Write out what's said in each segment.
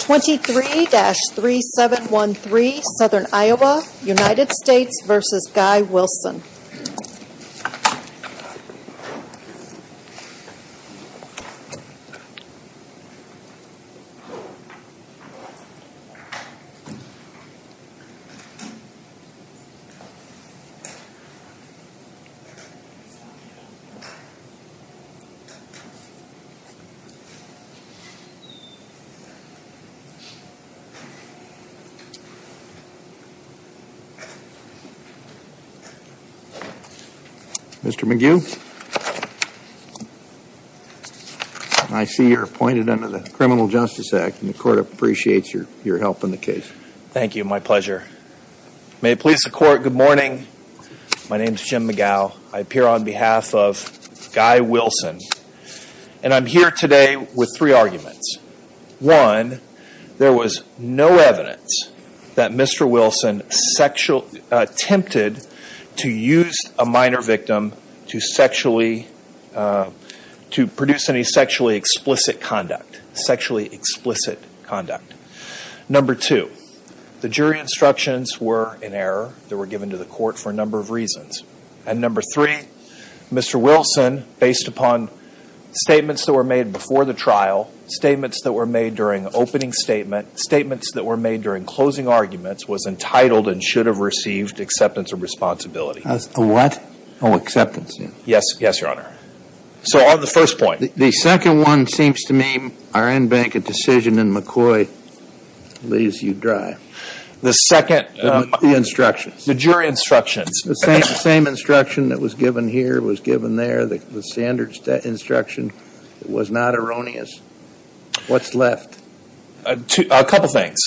23-3713 Southern Iowa, United States v. Guy Wilson Mr. McGue, I see you're appointed under the Criminal Justice Act and the court appreciates your help in the case. Thank you. My pleasure. May it please the court. Good morning. My name is Jim McGow. I appear on behalf of Guy Wilson and I'm here today with three arguments. One, there was no evidence that Mr. Wilson sexually attempted to use a minor victim to produce any sexually explicit conduct. Number two, the jury instructions were in error. They were given to the court for a number of reasons. And number three, Mr. Wilson, based upon statements that were made before the trial, statements that were made during opening statement, statements that were made during closing arguments, was entitled and should have received acceptance of responsibility. What? Oh, acceptance. Yes. Yes, Your Honor. So on the first point. The second one seems to me our in-bank decision in McCoy leaves you dry. The second. The jury instructions. The same instruction that was given here was given there. The standard instruction was not erroneous. What's left? A couple of things.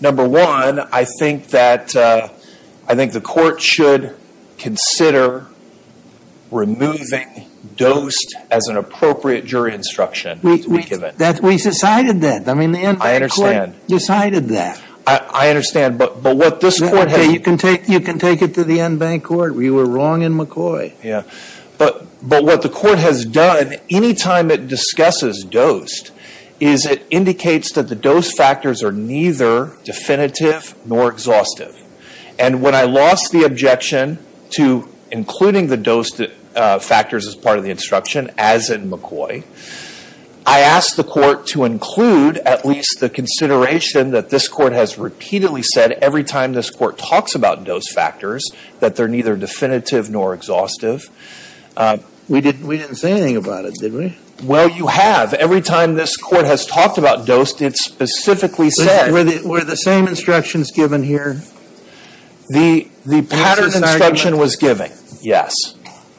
Number one, I think that the court should consider removing dosed as an appropriate jury instruction to be given. We decided that. I understand. Decided that. I understand. But what this court has. You can take it to the in-bank court. We were wrong in McCoy. Yeah. But what the court has done, any time it discusses dosed, is it indicates that the dose factors are neither definitive nor exhaustive. And when I lost the objection to including the dosed factors as part of the instruction, as in McCoy, I asked the court to include at least the consideration that this court has repeatedly said every time this court talks about dose factors, that they're neither definitive nor exhaustive. We didn't say anything about it, did we? Well, you have. Every time this court has talked about dosed, it's specifically said. Were the same instructions given here? The pattern instruction was given. Yes.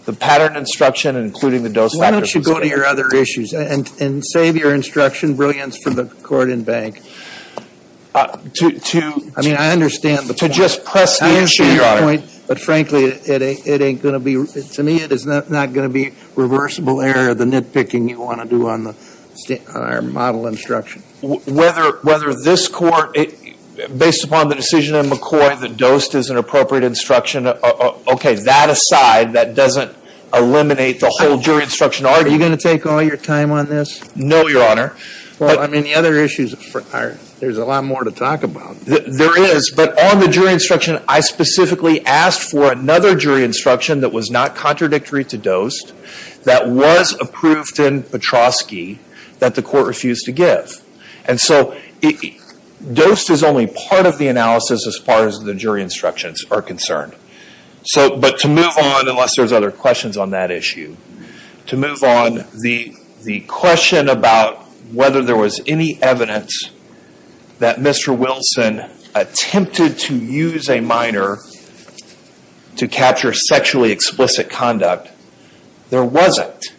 The pattern instruction, including the dose factors. Why don't you go to your other issues and save your instruction brilliance for the court in-bank. To. I mean, I understand. To just press the issue. I understand your point. But frankly, it ain't going to be. To me, it is not going to be reversible error, the nitpicking you want to do on our model instruction. Whether this court, based upon the decision in McCoy, the dosed is an appropriate instruction. Okay. That aside, that doesn't eliminate the whole jury instruction argument. Are you going to take all your time on this? No, Your Honor. Well, I mean, the other issues, there's a lot more to talk about. There is. But on the jury instruction, I specifically asked for another jury instruction that was not contradictory to dosed, that was approved in Petroski, that the court refused to give. And so, dosed is only part of the analysis as far as the jury instructions are concerned. But to move on, unless there's other questions on that issue, to move on, the question about whether there was any evidence that Mr. Wilson attempted to use a minor to capture sexually explicit conduct, there wasn't.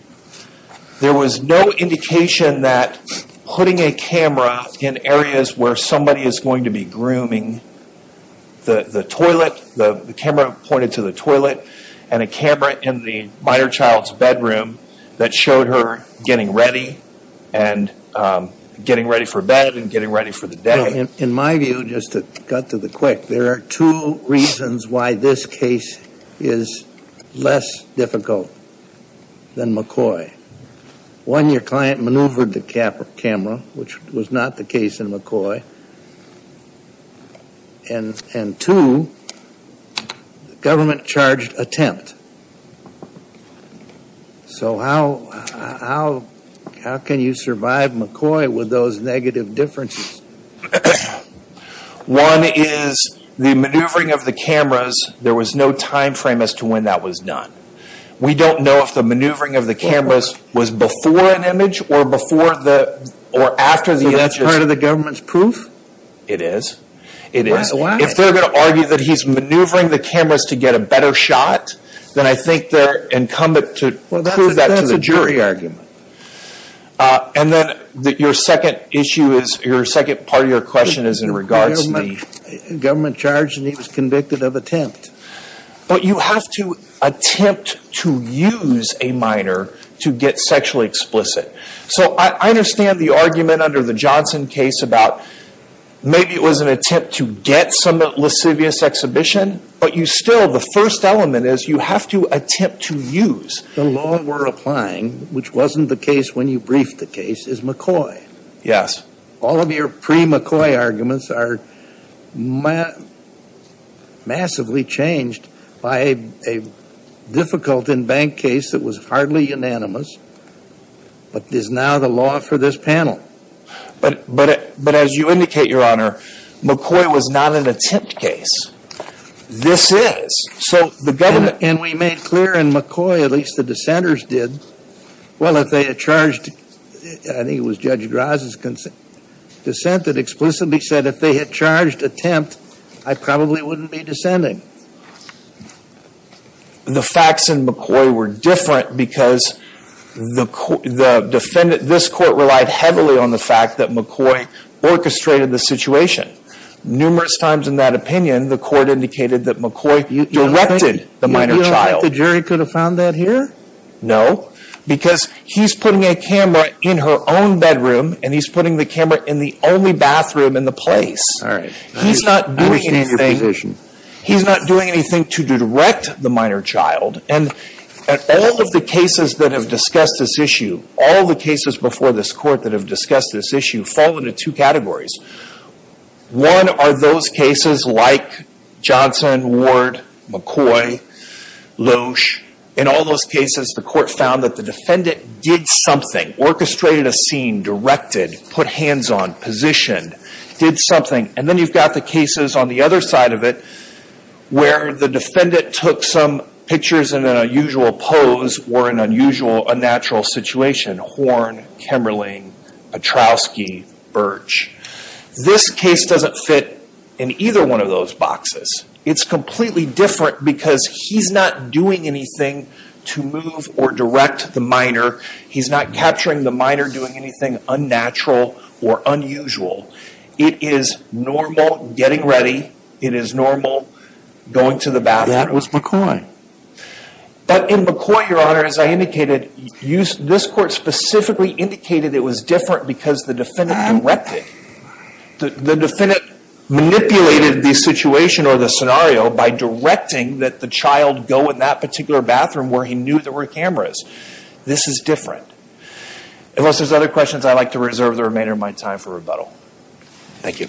There was no indication that putting a camera in areas where somebody is going to be grooming, the toilet, the camera pointed to the toilet, and a camera in the minor child's bedroom that showed her getting ready, and getting ready for bed, and getting ready for the day. In my view, just to cut to the quick, there are two reasons why this case is less difficult than McCoy. One, your client maneuvered the camera, which was not the case in McCoy. And two, the government charged attempt. So how can you survive McCoy with those negative differences? One is the maneuvering of the cameras, there was no time frame as to when that was done. We don't know if the maneuvering of the cameras was before an image, or after the images. Is that part of the government's proof? It is. Why? If they're going to argue that he's maneuvering the cameras to get a better shot, then I think they're incumbent to prove that to the jury. Well, that's a jury argument. And then your second issue is, your second part of your question is in regards to the government charge that he was convicted of attempt. But you have to attempt to use a minor to get sexually explicit. So I understand the argument under the Johnson case about maybe it was an attempt to get some lascivious exhibition, but you still, the first element is you have to attempt to use. The law we're applying, which wasn't the case when you briefed the case, is McCoy. Yes. All of your pre-McCoy arguments are massively changed by a difficult in bank case that was hardly unanimous, but is now the law for this panel. But as you indicate, Your Honor, McCoy was not an attempt case. This is. So the government... And we made clear in McCoy, at least the dissenters did, well, if they had charged, I think it was Judge Graz's dissent that explicitly said if they had charged attempt, I probably wouldn't be dissenting. The facts in McCoy were different because the defendant, this court relied heavily on the fact that McCoy orchestrated the situation. Numerous times in that opinion, the court indicated that McCoy directed the minor child. You don't think the jury could have found that here? No. Because he's putting a camera in her own bedroom, and he's putting the camera in the only bathroom in the place. He's not doing anything. I understand your position. He's not doing anything to direct the minor child. And all of the cases that have discussed this issue, all the cases before this court that have discussed this issue, fall into two categories. One are those cases like Johnson, Ward, McCoy, Loesch. In all those cases, the court found that the defendant did something, orchestrated a scene, directed, put hands on, positioned, did something. And then you've got the cases on the other side of it where the defendant took some pictures in an unusual pose or an unusual, unnatural situation, Horn, Kimberling, Petrowski, Birch. This case doesn't fit in either one of those boxes. It's completely different because he's not doing anything to move or direct the minor. He's not capturing the minor doing anything unnatural or unusual. It is normal getting ready. It is normal going to the bathroom. That was McCoy. But in McCoy, your honor, as I indicated, this court specifically indicated it was different because the defendant directed. The defendant manipulated the situation or the scenario by directing that the child go in that particular bathroom where he knew there were cameras. This is different. Unless there's other questions, I'd like to reserve the remainder of my time for rebuttal. Thank you.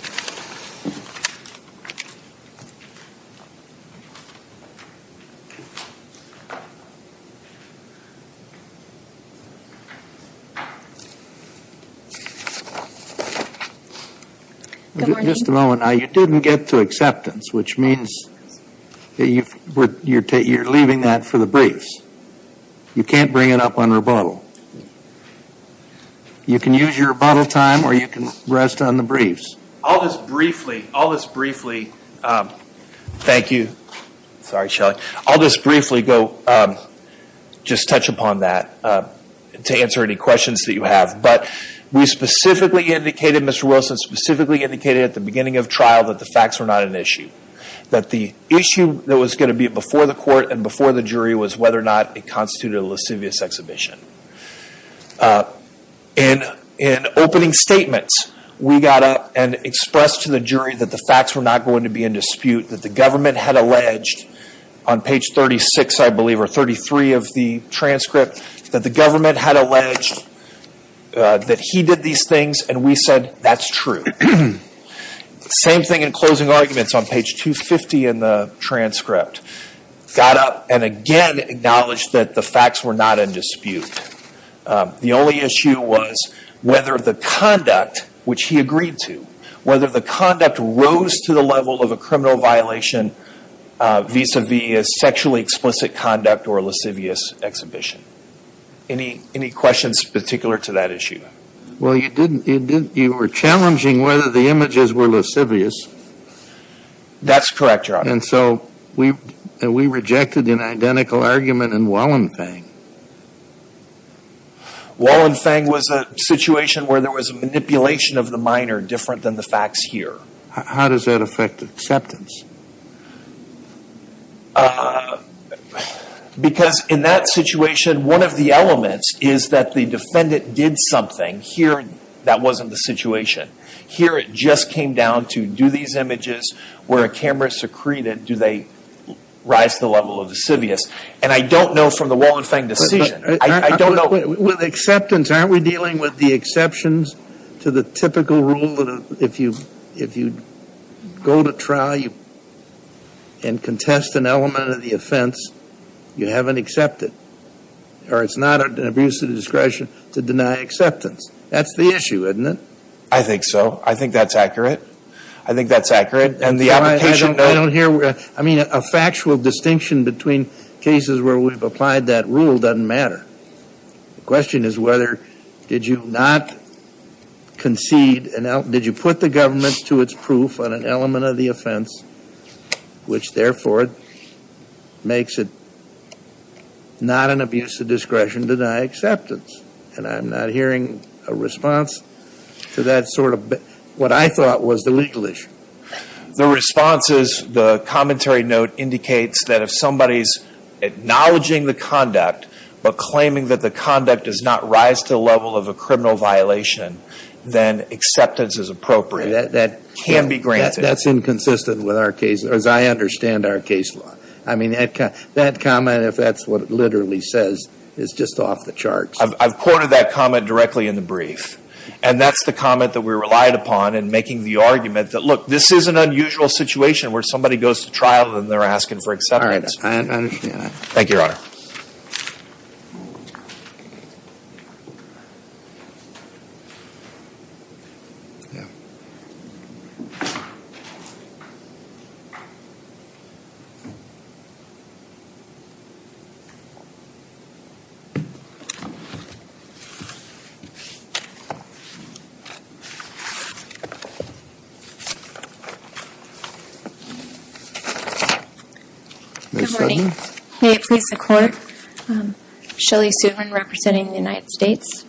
Good morning. Just a moment. Now, you didn't get to acceptance, which means you're leaving that for the briefs. You can't bring it up on rebuttal. You can use your rebuttal time or you can rest on the briefs. I'll just briefly, I'll just briefly, thank you, sorry Shelly, I'll just briefly go, just touch upon that to answer any questions that you have. But we specifically indicated, Mr. Wilson specifically indicated at the beginning of trial that the facts were not an issue. That the issue that was going to be before the court and before the jury was whether or not it constituted a lascivious exhibition. In opening statements, we got up and expressed to the jury that the facts were not going to be in dispute, that the government had alleged on page 36, I believe, or 33 of the transcript, that the government had alleged that he did these things and we said that's true. Same thing in closing arguments on page 250 in the transcript. Got up and again acknowledged that the facts were not in dispute. The only issue was whether the conduct, which he agreed to, whether the conduct rose to the level of a criminal violation vis-a-vis a sexually explicit conduct or a lascivious exhibition. Any questions particular to that issue? Well you didn't, you were challenging whether the images were lascivious. That's correct, Your Honor. And so we rejected an identical argument in Wallenfang. Wallenfang was a situation where there was a manipulation of the minor different than the facts here. How does that affect acceptance? Because in that situation, one of the elements is that the defendant did something. Here that wasn't the situation. Here it just came down to do these images where a camera secreted, do they rise to the level of lascivious? And I don't know from the Wallenfang decision, I don't know. With acceptance, aren't we dealing with the exceptions to the typical rule that if you go to trial and contest an element of the offense, you haven't accepted? Or it's not an abuse of discretion to deny acceptance. That's the issue, isn't it? I think so. I think that's accurate. I think that's accurate. And the application... I don't hear... I mean, a factual distinction between cases where we've applied that rule doesn't matter. The question is whether did you not concede... Did you put the government to its proof on an element of the offense, which therefore makes it not an abuse of discretion to deny acceptance? And I'm not hearing a response to that sort of... What I thought was the legal issue. The response is the commentary note indicates that if somebody's acknowledging the conduct, but claiming that the conduct does not rise to the level of a criminal violation, then acceptance is appropriate. That can be granted. That's inconsistent with our case, as I understand our case law. I mean, that comment, if that's what it literally says, is just off the charts. I've quoted that comment directly in the brief. And that's the comment that we relied upon in making the argument that, look, this is an unusual situation where somebody goes to trial and they're asking for acceptance. I understand that. Thank you, Your Honor. Good morning. May it please the Court. Shelley Suvin, representing the United States.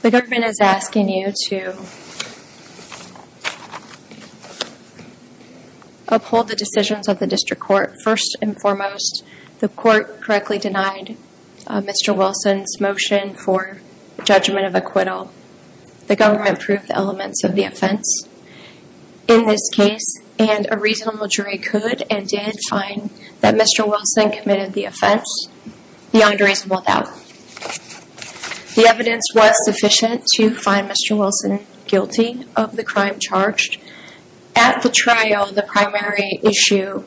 The government is asking you to uphold the decisions of the district court. First and foremost, the court correctly denied Mr. Wilson's motion for judgment of acquittal. The government proved the elements of the offense in this case, and a reasonable jury could and did find that Mr. Wilson committed the offense beyond reasonable doubt. The evidence was sufficient to find Mr. Wilson guilty of the crime charged. At the trial, the primary issue...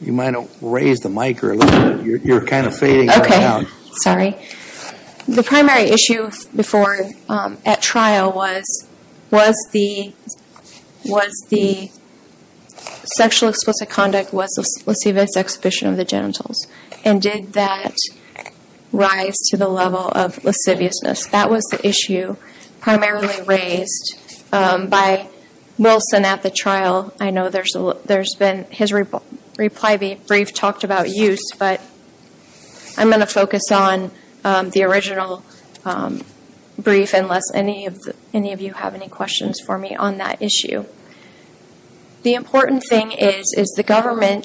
You might want to raise the mic a little bit. You're kind of fading right now. Okay, sorry. The primary issue before, at trial, was the sexual explicit conduct was the lascivious exhibition of the genitals, and did that rise to the level of lasciviousness? That was the issue primarily raised by Wilson at the trial. I know his reply brief talked about use, but I'm going to focus on the original brief, unless any of you have any questions for me on that issue. The important thing is the government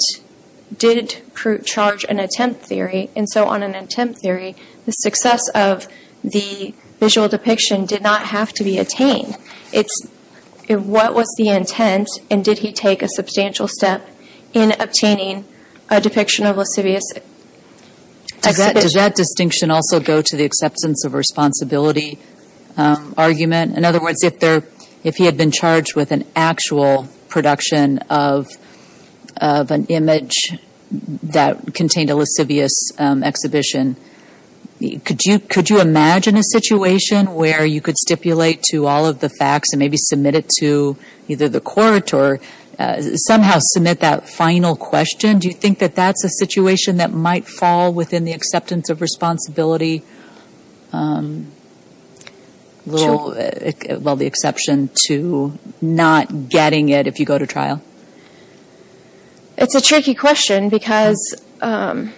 did charge an attempt theory, and so on an attempt theory, the success of the visual depiction did not have to be attained. What was the intent, and did he take a substantial step in obtaining a depiction of lascivious exhibition? Does that distinction also go to the acceptance of responsibility argument? In other words, if he had been charged with an actual production of an image that contained a lascivious exhibition, could you imagine a situation where you could stipulate to all of the facts and maybe submit it to either the court or somehow submit that final question? Do you think that that's a situation that might fall within the acceptance of responsibility? Well, the exception to not getting it if you go to trial? It's a tricky question because there's other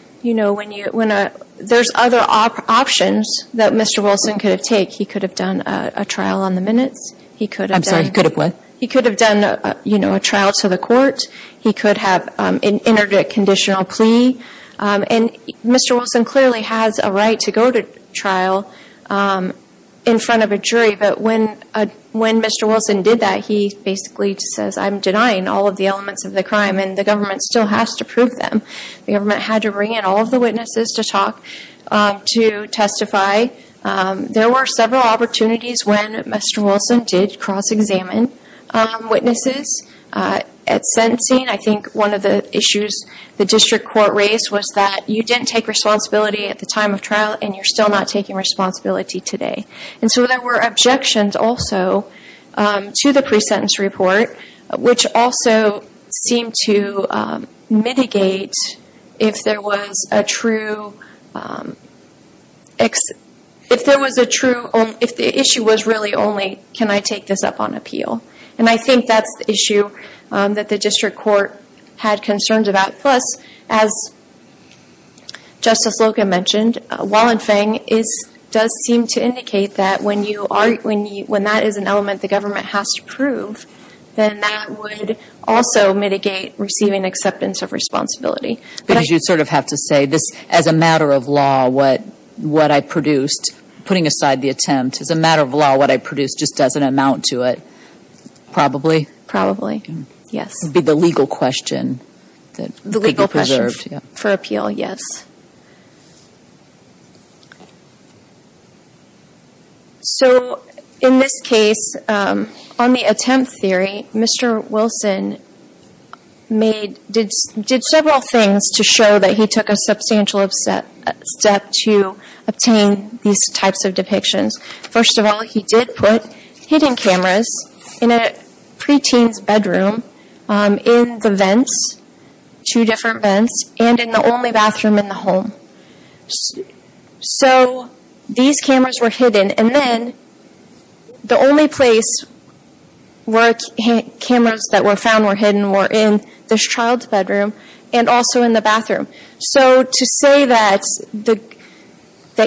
options that Mr. Wilson could have taken. He could have done a trial on the minutes. I'm sorry, he could have what? He could have done a trial to the court. He could have entered a conditional plea. And Mr. Wilson clearly has a right to go to trial in front of a jury, but when Mr. Wilson did that, he basically says, I'm denying all of the elements of the crime, and the government still has to prove them. The government had to bring in all of the witnesses to talk, to testify. There were several opportunities when Mr. Wilson did cross-examine witnesses at sentencing. I think one of the issues the district court raised was that you didn't take responsibility at the time of trial, and you're still not taking responsibility today. And so there were objections also to the pre-sentence report, which also seemed to mitigate if there was a true, if the issue was really only can I take this up on appeal. And I think that's the issue that the district court had concerns about. Plus, as Justice Loca mentioned, Wallenfang does seem to indicate that when that is an element the government has to prove, then that would also mitigate receiving acceptance of responsibility. Because you sort of have to say, as a matter of law, what I produced, putting aside the attempt, as a matter of law, what I produced just doesn't amount to it, probably? Probably, yes. That would be the legal question that could be preserved. The legal question for appeal, yes. So in this case, on the attempt theory, Mr. Wilson did several things to show that he took a substantial step to obtain these types of depictions. First of all, he did put hidden cameras in a preteen's bedroom in the vents, two different vents, and in the only bathroom in the home. So these cameras were hidden. And then the only place where cameras that were found were hidden were in this child's bedroom and also in the bathroom. So to say that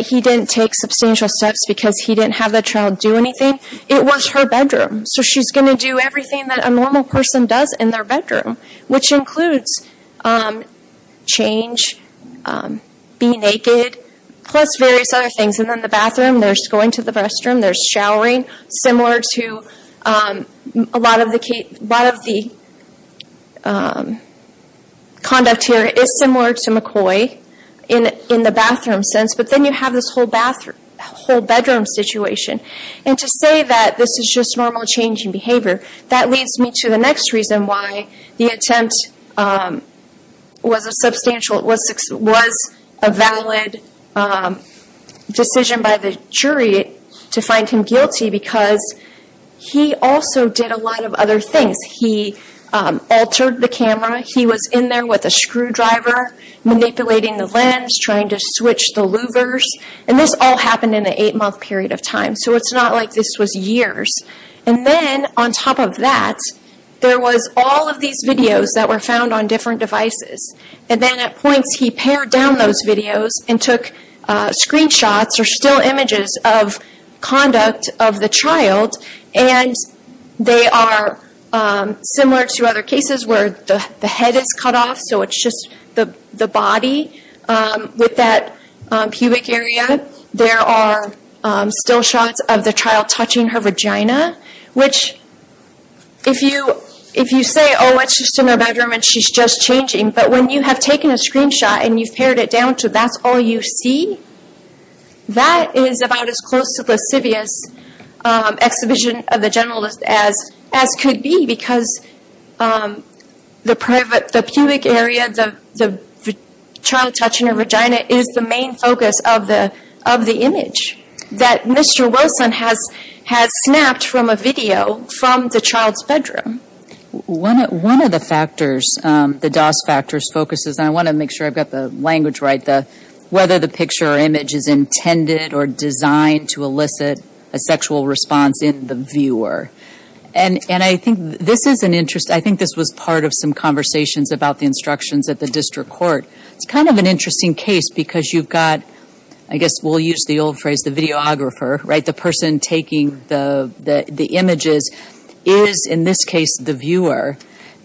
he didn't take substantial steps because he didn't have the child do anything, it was her bedroom. So she's going to do everything that a normal person does in their bedroom, which includes change, be naked, plus various other things. And then the bathroom, there's going to the restroom, there's showering, similar to a lot of the conduct here. It is similar to McCoy in the bathroom sense, but then you have this whole bedroom situation. And to say that this is just normal change in behavior, that leads me to the next reason why the attempt was a valid decision by the jury to find him guilty, because he also did a lot of other things. He altered the camera. He was in there with a screwdriver, manipulating the lens, trying to switch the louvers. And this all happened in an eight-month period of time, so it's not like this was years. And then on top of that, there was all of these videos that were found on different devices. And then at points he pared down those videos and took screenshots, or still images, of conduct of the child. And they are similar to other cases where the head is cut off, so it's just the body. With that pubic area, there are still shots of the child touching her vagina. Which, if you say, oh, it's just in her bedroom and she's just changing, but when you have taken a screenshot and you've pared it down to that's all you see, that is about as close to lascivious exhibition of the generalist as could be, because the pubic area, the child touching her vagina, is the main focus of the image that Mr. Wilson has snapped from a video from the child's bedroom. One of the factors, the DOS factors, focuses, and I want to make sure I've got the language right, whether the picture or image is intended or designed to elicit a sexual response in the viewer. And I think this was part of some conversations about the instructions at the district court. It's kind of an interesting case because you've got, I guess we'll use the old phrase, the videographer, right? The person taking the images is, in this case, the viewer.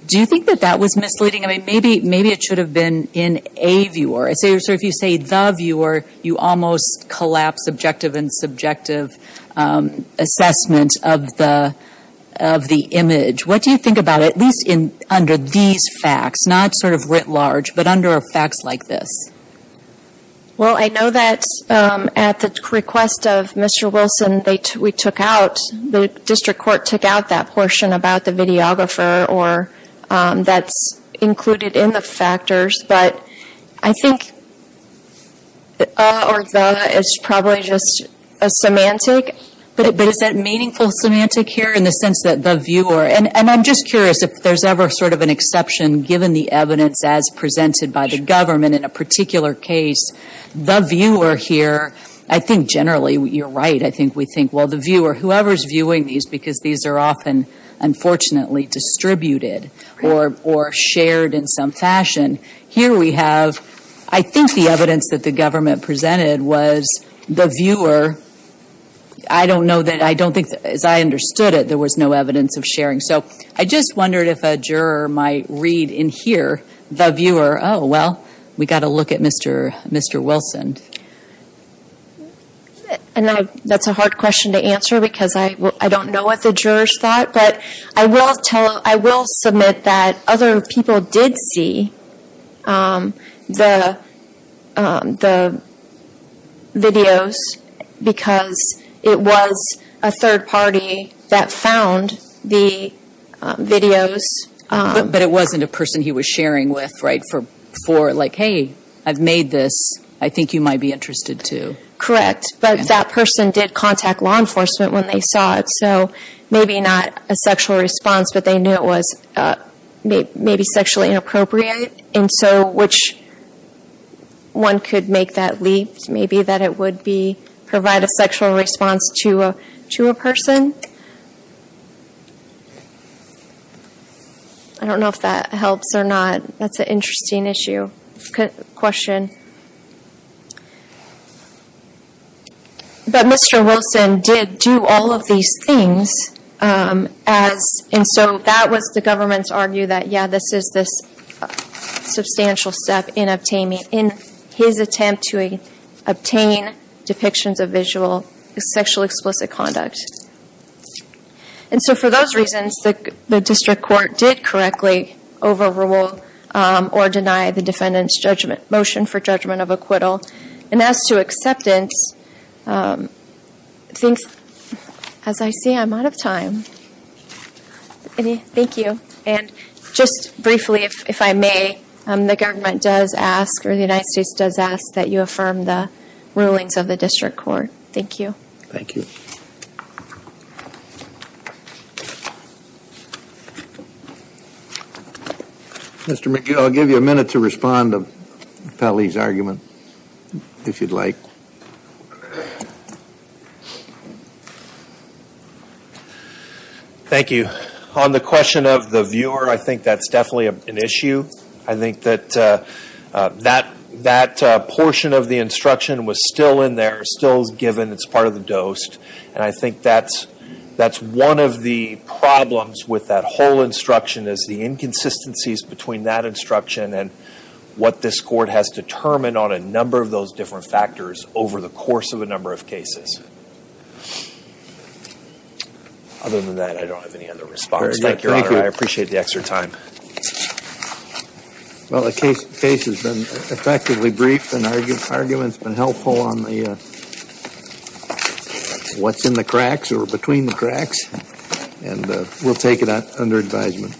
Do you think that that was misleading? I mean, maybe it should have been in a viewer. So if you say the viewer, you almost collapse subjective and subjective assessment of the image. What do you think about it, at least under these facts, not sort of writ large, but under facts like this? Well, I know that at the request of Mr. Wilson, we took out, the district court took out that portion about the videographer or that's included in the factors, but I think a or the is probably just a semantic. But is that meaningful semantic here in the sense that the viewer, and I'm just curious if there's ever sort of an exception given the evidence as presented by the government in a particular case, the viewer here, I think generally you're right. I think we think, well, the viewer, whoever's viewing these because these are often, unfortunately, distributed or shared in some fashion. Here we have, I think the evidence that the government presented was the viewer, I don't know that, I don't think, as I understood it, there was no evidence of sharing. So I just wondered if a juror might read in here, the viewer, oh, well, we got to look at Mr. Wilson. And that's a hard question to answer because I don't know what the jurors thought, but I will tell, I will submit that other people did see the videos because it was a third party that found the videos. But it wasn't a person he was sharing with, right, for like, hey, I've made this, I think you might be interested to. Correct, but that person did contact law enforcement when they saw it, so maybe not a sexual response, but they knew it was maybe sexually inappropriate, and so which one could make that leap? Maybe that it would be, provide a sexual response to a person? I don't know if that helps or not, that's an interesting issue, question. But Mr. Wilson did do all of these things, and so that was the government's argue that, yeah, this is this substantial step in obtaining, in his attempt to obtain depictions of sexual explicit conduct. And so for those reasons, the district court did correctly overrule or deny the defendant's motion for judgment of acquittal. And as to acceptance, as I see, I'm out of time. Thank you, and just briefly, if I may, the government does ask, or the United States does ask, that you affirm the rulings of the district court. Thank you. Thank you. Mr. McGee, I'll give you a minute to respond to Pally's argument, if you'd like. Thank you. On the question of the viewer, I think that's definitely an issue. I think that that portion of the instruction was still in there, still given, it's part of the DOST, and I think that's one of the problems with that whole instruction is the inconsistencies between that instruction and what this court has determined on a number of those different factors over the course of a number of cases. Other than that, I don't have any other response. Thank you, Your Honor. I appreciate the extra time. Well, the case has been effectively brief, and arguments have been helpful on what's in the cracks or between the cracks, and we'll take it under advisement.